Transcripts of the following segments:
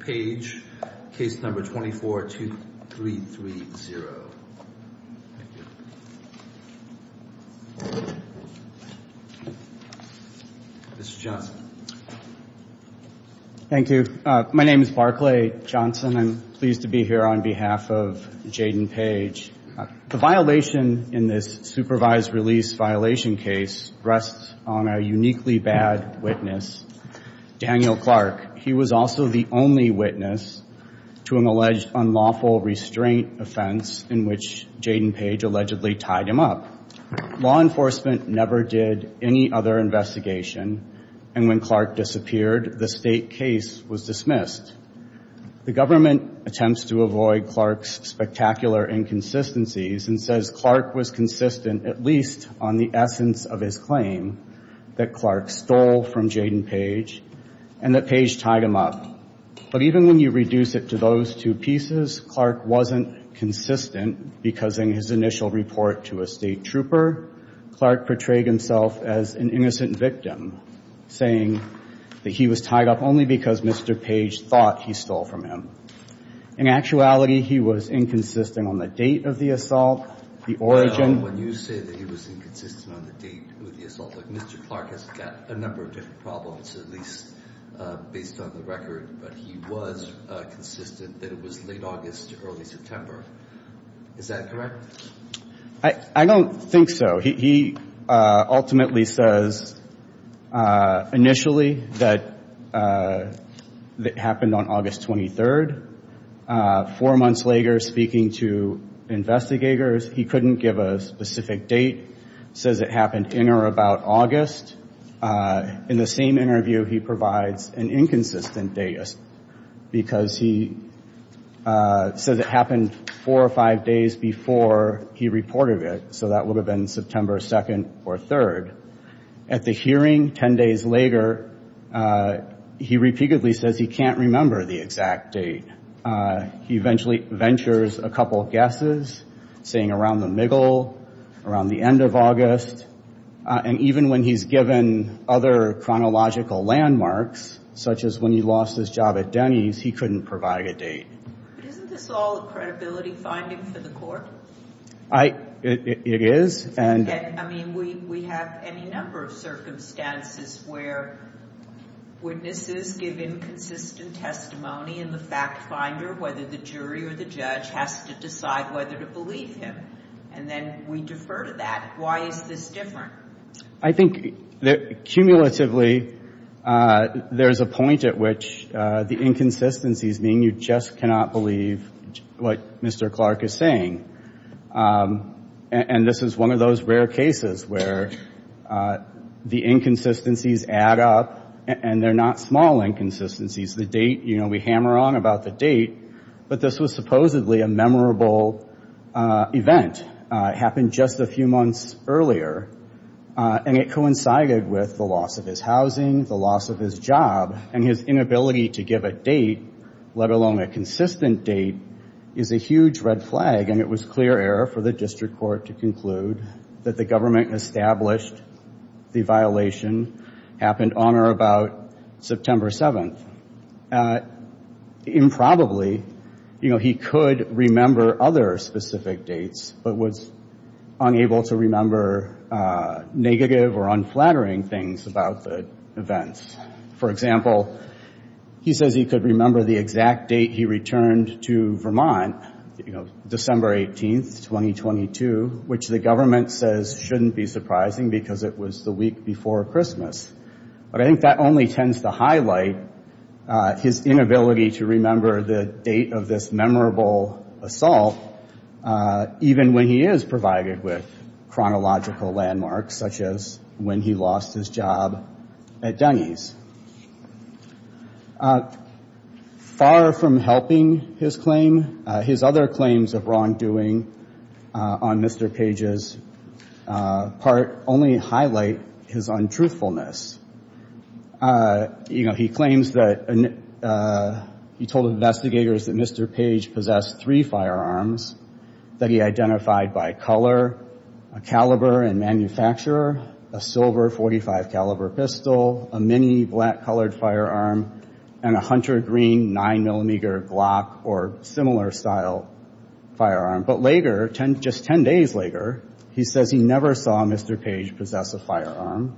Page, case number 242330. Thank you. Mr. Johnson. Thank you. My name is Barclay Johnson. I'm pleased to be here on behalf of Jaden Page. The violation in this supervised release violation case rests on a uniquely bad witness, Daniel Clark. He was also the only witness to an alleged unlawful restraint offense in which Jaden Page allegedly tied him up. Law enforcement never did any other investigation, and when Clark disappeared, the state case was dismissed. The government attempts to avoid Clark's spectacular inconsistencies and says Clark was consistent, at least on the essence of his claim that Clark stole from Jaden Page and that Page tied him up. But even when you reduce it to those two pieces, Clark wasn't consistent because in his initial report to a state trooper, Clark portrayed himself as an innocent victim, saying that he was tied up only because Mr. Page thought he stole from him. In actuality, he was inconsistent on the date of the assault, the origin. Even when you say that he was inconsistent on the date of the assault, Mr. Clark has got a number of different problems, at least based on the record, but he was consistent that it was late August to early September. Is that correct? I don't think so. He ultimately says initially that it happened on August 23rd. Four months later, speaking to investigators, he couldn't give a specific date, says it happened in or about August. In the same interview, he provides an inconsistent date because he says it happened four or five days before he reported it, so that would have been September 2nd or 3rd. At the hearing 10 days later, he repeatedly says he can't remember the exact date. He eventually ventures a couple guesses, saying around the Miggle, around the end of August, and even when he's given other chronological landmarks, such as when he lost his job at Denny's, he couldn't provide a date. Isn't this all a credibility finding for the court? It is. I mean, we have any number of circumstances where witnesses give inconsistent testimony, and the fact finder, whether the jury or the judge, has to decide whether to believe him, and then we defer to that. Why is this different? I think cumulatively, there's a point at which the inconsistencies mean you just cannot believe what Mr. Clark is saying, and this is one of those rare cases where the inconsistencies add up, and they're not small inconsistencies. The date, you know, we hammer on about the date, but this was supposedly a memorable event. It happened just a few months earlier, and it coincided with the loss of his housing, the loss of his job, and his inability to give a date, let alone a consistent date, is a huge red flag, and it was clear error for the district court to conclude that the government established the violation happened on or about September 7th. Improbably, you know, he could remember other specific dates, but was unable to remember negative or unflattering things about the events. For example, he says he could remember the exact date he returned to Vermont, you know, December 18th, 2022, which the government says shouldn't be surprising because it was the week before Christmas, but I think that only tends to highlight his inability to remember the date of this memorable assault, even when he is provided with chronological landmarks, such as when he lost his job at Dunny's. Far from helping his claim, his other claims of wrongdoing on Mr. Page's part only highlight his untruthfulness. You know, he claims that, he told investigators that Mr. Page possessed three firearms that he identified by color, a caliber and manufacturer, a silver .45 caliber pistol, a mini black colored firearm, and a hunter green nine millimeter Glock or similar style firearm. But later, just ten days later, he says he never saw Mr. Page possess a firearm.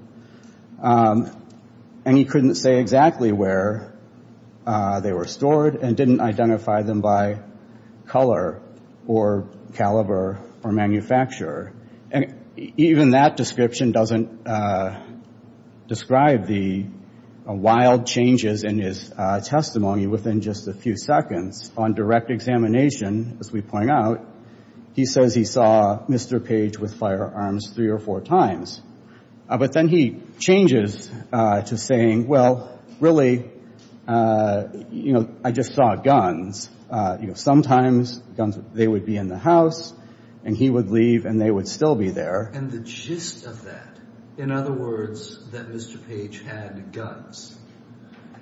And he couldn't say exactly where they were stored and didn't identify them by color or caliber or manufacturer. And even that description doesn't describe the wild changes in his testimony within just a few seconds. On direct examination, as we point out, he says he saw Mr. Page with firearms three or four times. But then he changes to saying, well, really, you know, I just saw guns. You know, sometimes guns, they would be in the house and he would leave and they would still be there. And the gist of that, in other words, that Mr. Page had guns,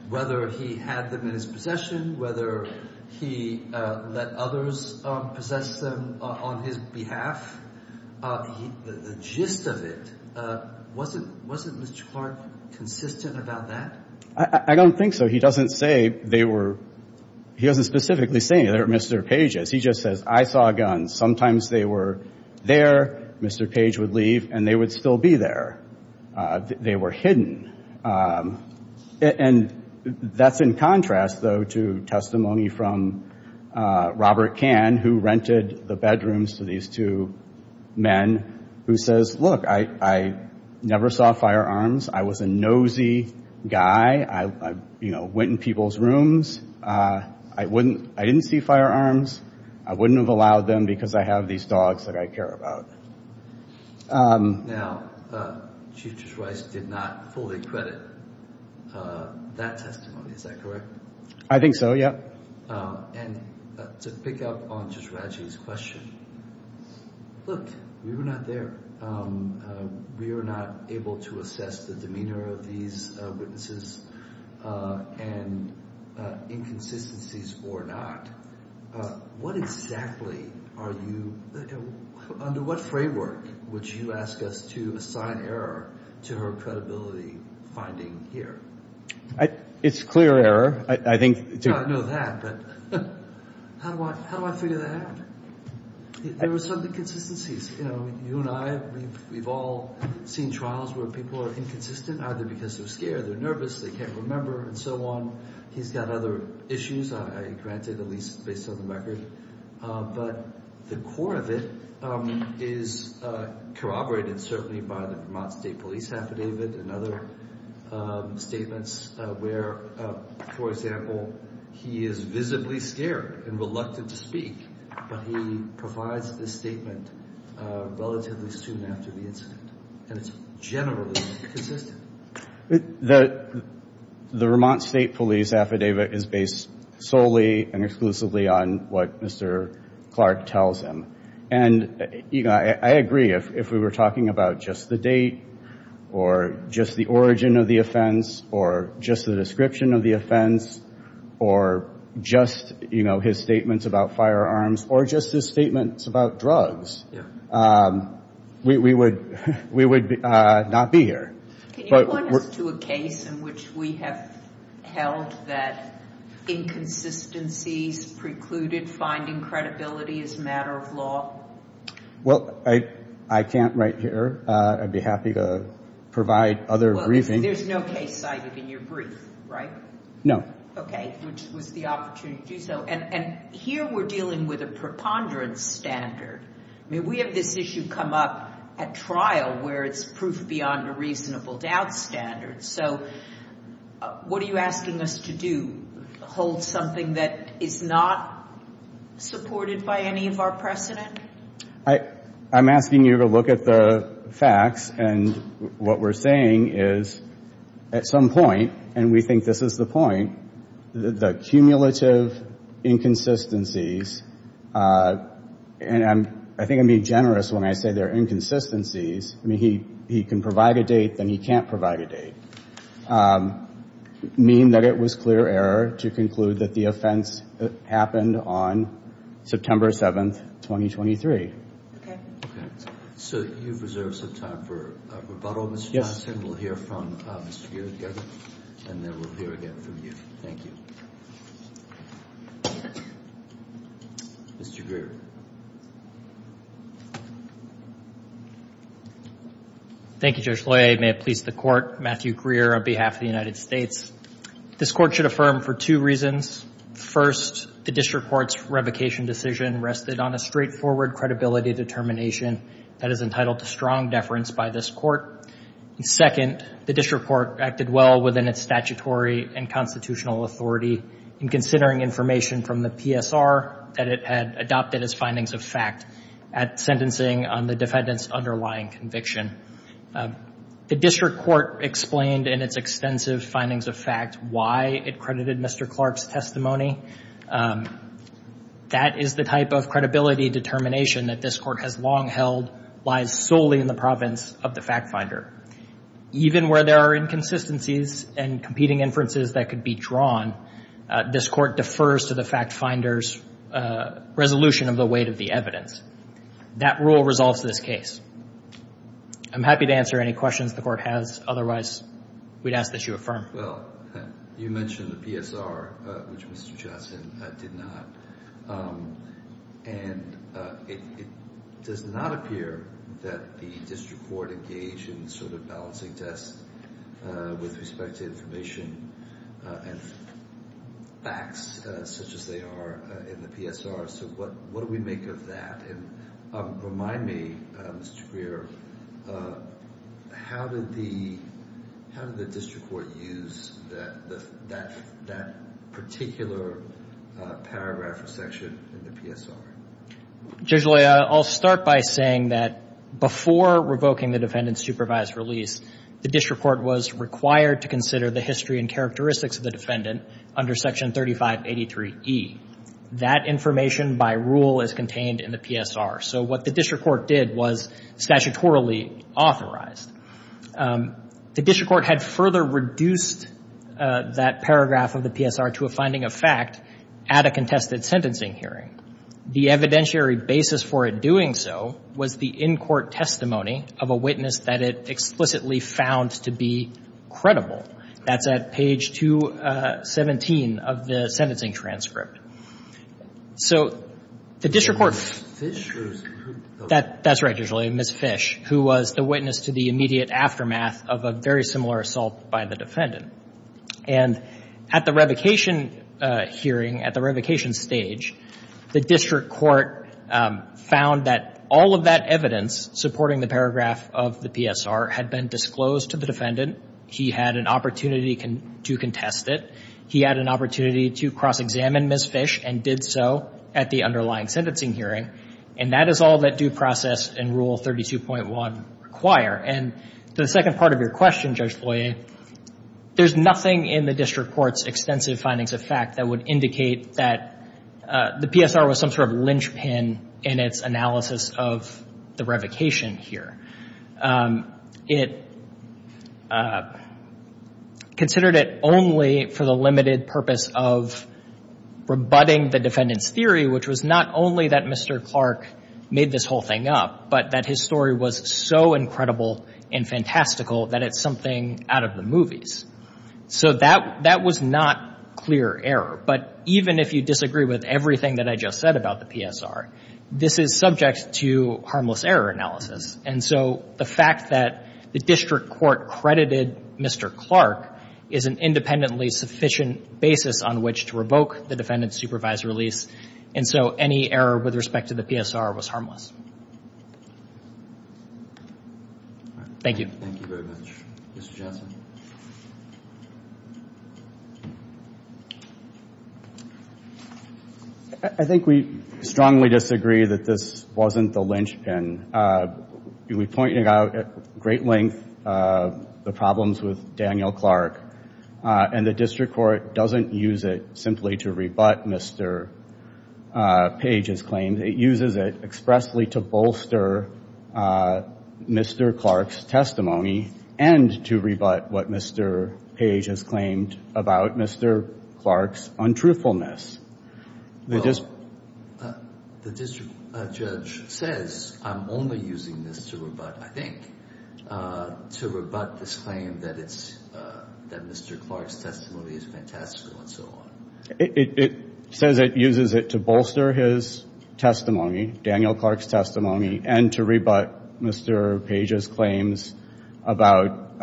whether he had them in his possession, whether he let others possess them on his behalf, the gist of it, wasn't Mr. Clark consistent about that? I don't think so. He doesn't say they were, he doesn't specifically say they were Mr. Page's. He just says, I saw guns. Sometimes they were there. Mr. Page would leave and they would still be there. They were hidden. And that's in contrast, though, to testimony from Robert Cann, who rented the bedrooms to these two men, who says, look, I never saw firearms. I was a nosy guy. I, you know, went in people's rooms. I wouldn't, I didn't see firearms. I wouldn't have allowed them because I have these dogs that I care about. Now, Chief Judge Rice did not fully credit that testimony. Is that correct? I think so. Yeah. And to pick up on Judge Raggi's question, look, we were not there. We were not able to assess the demeanor of these witnesses and inconsistencies or not. What exactly are you, under what framework would you ask us to assign error to her credibility finding here? It's clear error. I think. I know that, but how do I figure that out? There were some inconsistencies. You know, you and I, we've all seen trials where people are inconsistent, either because they're scared, they're nervous, they can't remember, and so on. He's got other issues. I granted at least based on the record. But the core of it is corroborated certainly by the Vermont State Police Affidavit and other statements where, for example, he is visibly scared and reluctant to speak, but he provides this statement relatively soon after the incident. And it's generally consistent. The Vermont State Police Affidavit is based solely and exclusively on what Mr. Clark tells him. And, you know, I agree. If we were talking about just the date or just the origin of the offense or just the description of the offense or just, you know, his statements about firearms or just his statements about drugs, we would not be here. Can you point us to a case in which we have held that inconsistencies precluded finding credibility as a matter of law? Well, I can't right here. I'd be happy to provide other reasons. There's no case cited in your brief, right? No. Okay, which was the opportunity to do so. And here we're dealing with a preponderance standard. I mean, we have this issue come up at trial where it's proof beyond a reasonable doubt standard. So what are you asking us to do, hold something that is not supported by any of our precedent? I'm asking you to look at the facts. And what we're saying is at some point, and we think this is the point, the cumulative inconsistencies, and I think I'm being generous when I say they're inconsistencies. I mean, he can provide a date, then he can't provide a date, mean that it was clear error to conclude that the offense happened on September 7th, 2023. So you've reserved some time for rebuttal, Mr. Johnson. We'll hear from Mr. Greer together, and then we'll hear again from you. Thank you. Mr. Greer. Thank you, Judge Loyer. May it please the Court, Matthew Greer on behalf of the United States. This Court should affirm for two reasons. First, the District Court's revocation decision rested on a straightforward credibility determination that is entitled to strong deference by this Court. Second, the District Court acted well within its statutory and constitutional authority in considering information from the PSR that it had adopted as findings of fact at sentencing on the defendant's underlying conviction. The District Court explained in its extensive findings of fact why it credited Mr. Clark's testimony. That is the type of credibility determination that this Court has long held lies solely in the province of the fact finder. Even where there are inconsistencies and competing inferences that could be drawn, this Court defers to the fact finder's resolution of the weight of the evidence. That rule resolves this case. I'm happy to answer any questions the Court has. Otherwise, we'd ask that you affirm. Well, you mentioned the PSR, which Mr. Johnson did not. And it does not appear that the District Court engaged in sort of balancing tests with respect to information and facts such as they are in the PSR. So what do we make of that? Remind me, Mr. Greer, how did the District Court use that particular paragraph or section in the PSR? Judge Loy, I'll start by saying that before revoking the defendant's supervised release, the District Court was required to consider the history and characteristics of the defendant under Section 3583E. That information, by rule, is contained in the PSR. So what the District Court did was statutorily authorize. The District Court had further reduced that paragraph of the PSR to a finding of fact at a contested sentencing hearing. The evidentiary basis for it doing so was the in-court testimony of a witness that it explicitly found to be credible. That's at page 217 of the sentencing transcript. So the District Court ---- That's right, Judge Loy, Ms. Fish, who was the witness to the immediate aftermath of a very similar assault by the defendant. And at the revocation hearing, at the revocation stage, the District Court found that all of that evidence supporting the paragraph of the PSR had been disclosed to the defendant. He had an opportunity to contest it. He had an opportunity to cross-examine Ms. Fish and did so at the underlying sentencing hearing. And that is all that due process and Rule 32.1 require. And the second part of your question, Judge Loy, there's nothing in the District Court's extensive findings of fact that would indicate that the PSR was some sort of linchpin in its analysis of the revocation here. It considered it only for the limited purpose of rebutting the defendant's theory, which was not only that Mr. Clark made this whole thing up, but that his story was so incredible and fantastical that it's something out of the movies. So that was not clear error. But even if you disagree with everything that I just said about the PSR, this is subject to harmless error analysis. And so the fact that the District Court credited Mr. Clark is an independently sufficient basis on which to revoke the defendant's supervised release. And so any error with respect to the PSR was harmless. Thank you. Thank you very much. Mr. Johnson. I think we strongly disagree that this wasn't the linchpin. We pointed out at great length the problems with Daniel Clark, and the District Court doesn't use it simply to rebut Mr. Page's claim. It uses it expressly to bolster Mr. Clark's testimony and to rebut what Mr. Page has claimed about Mr. Clark's untruthfulness. The district judge says I'm only using this to rebut, I think, to rebut this claim that Mr. Clark's testimony is fantastical and so on. It says it uses it to bolster his testimony, Daniel Clark's testimony, and to rebut Mr. Page's claims about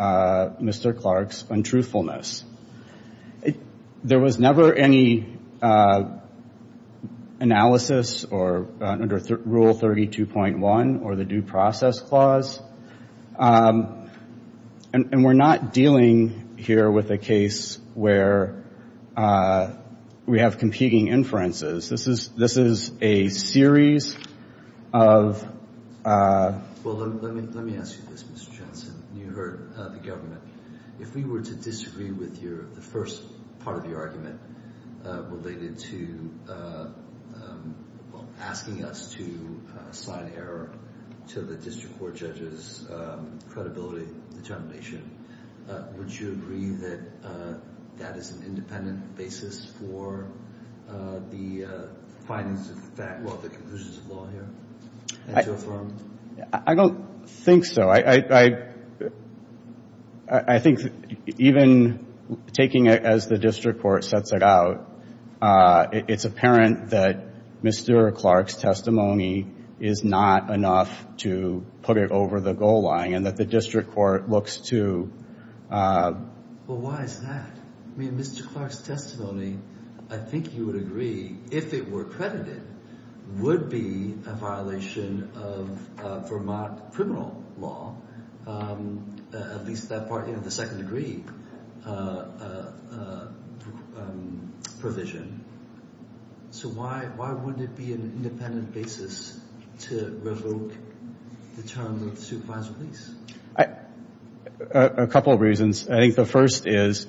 Mr. Clark's untruthfulness. There was never any analysis under Rule 32.1 or the Due Process Clause, and we're not dealing here with a case where we have competing inferences. This is a series of ---- Well, let me ask you this, Mr. Johnson. You heard the government. If we were to disagree with the first part of your argument related to asking us to assign error to the district court judge's credibility determination, would you agree that that is an independent basis for the findings of the fact, well, the conclusions of law here? I don't think so. I think even taking it as the district court sets it out, it's apparent that Mr. Clark's testimony is not enough to put it over the goal line and that the district court looks to Well, why is that? I mean, Mr. Clark's testimony, I think you would agree, if it were credited, would be a violation of Vermont criminal law. At least that part of the second degree provision. So why wouldn't it be an independent basis to revoke the terms of the supervisor's release? A couple of reasons. I think the first is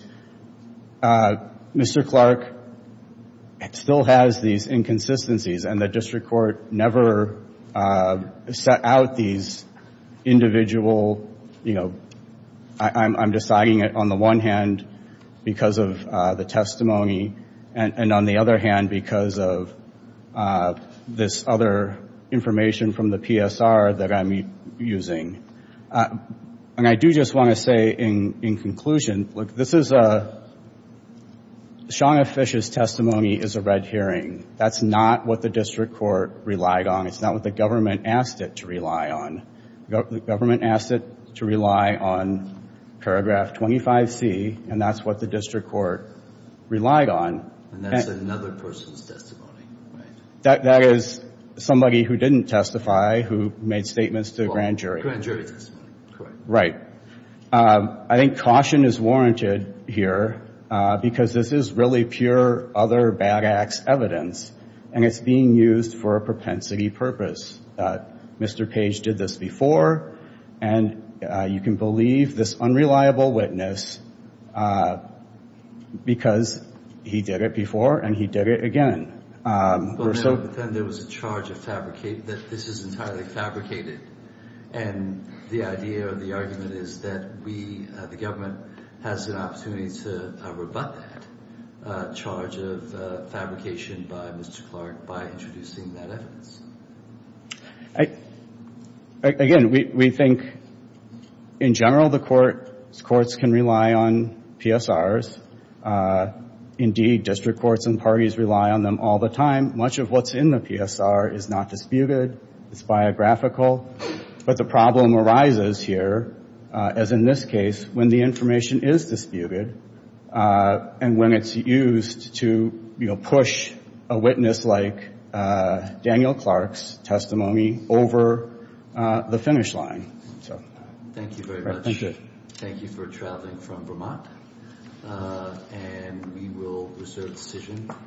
Mr. Clark still has these inconsistencies and the district court never set out these individual, you know, I'm deciding it on the one hand because of the testimony and on the other hand because of this other information from the PSR that I'm using. And I do just want to say in conclusion, look, this is a strong, officious testimony is a red herring. That's not what the district court relied on. It's not what the government asked it to rely on. The government asked it to rely on paragraph 25C and that's what the district court relied on. And that's another person's testimony, right? That is somebody who didn't testify, who made statements to the grand jury. Right. I think caution is warranted here because this is really pure other bad-ass evidence and it's being used for a propensity purpose. Mr. Page did this before and you can believe this unreliable witness because he did it before and he did it again. But then there was a charge of fabricating, that this is entirely fabricated. And the idea or the argument is that we, the government, has an opportunity to rebut that charge of fabrication by Mr. Clark by introducing that evidence. Again, we think in general the courts can rely on PSRs. Indeed, district courts and parties rely on them all the time. Much of what's in the PSR is not disputed. It's biographical. But the problem arises here, as in this case, when the information is disputed and when it's used to push a witness like Daniel Clark's testimony over the finish line. Thank you very much. Thank you for traveling from Vermont. And we will reserve the decision.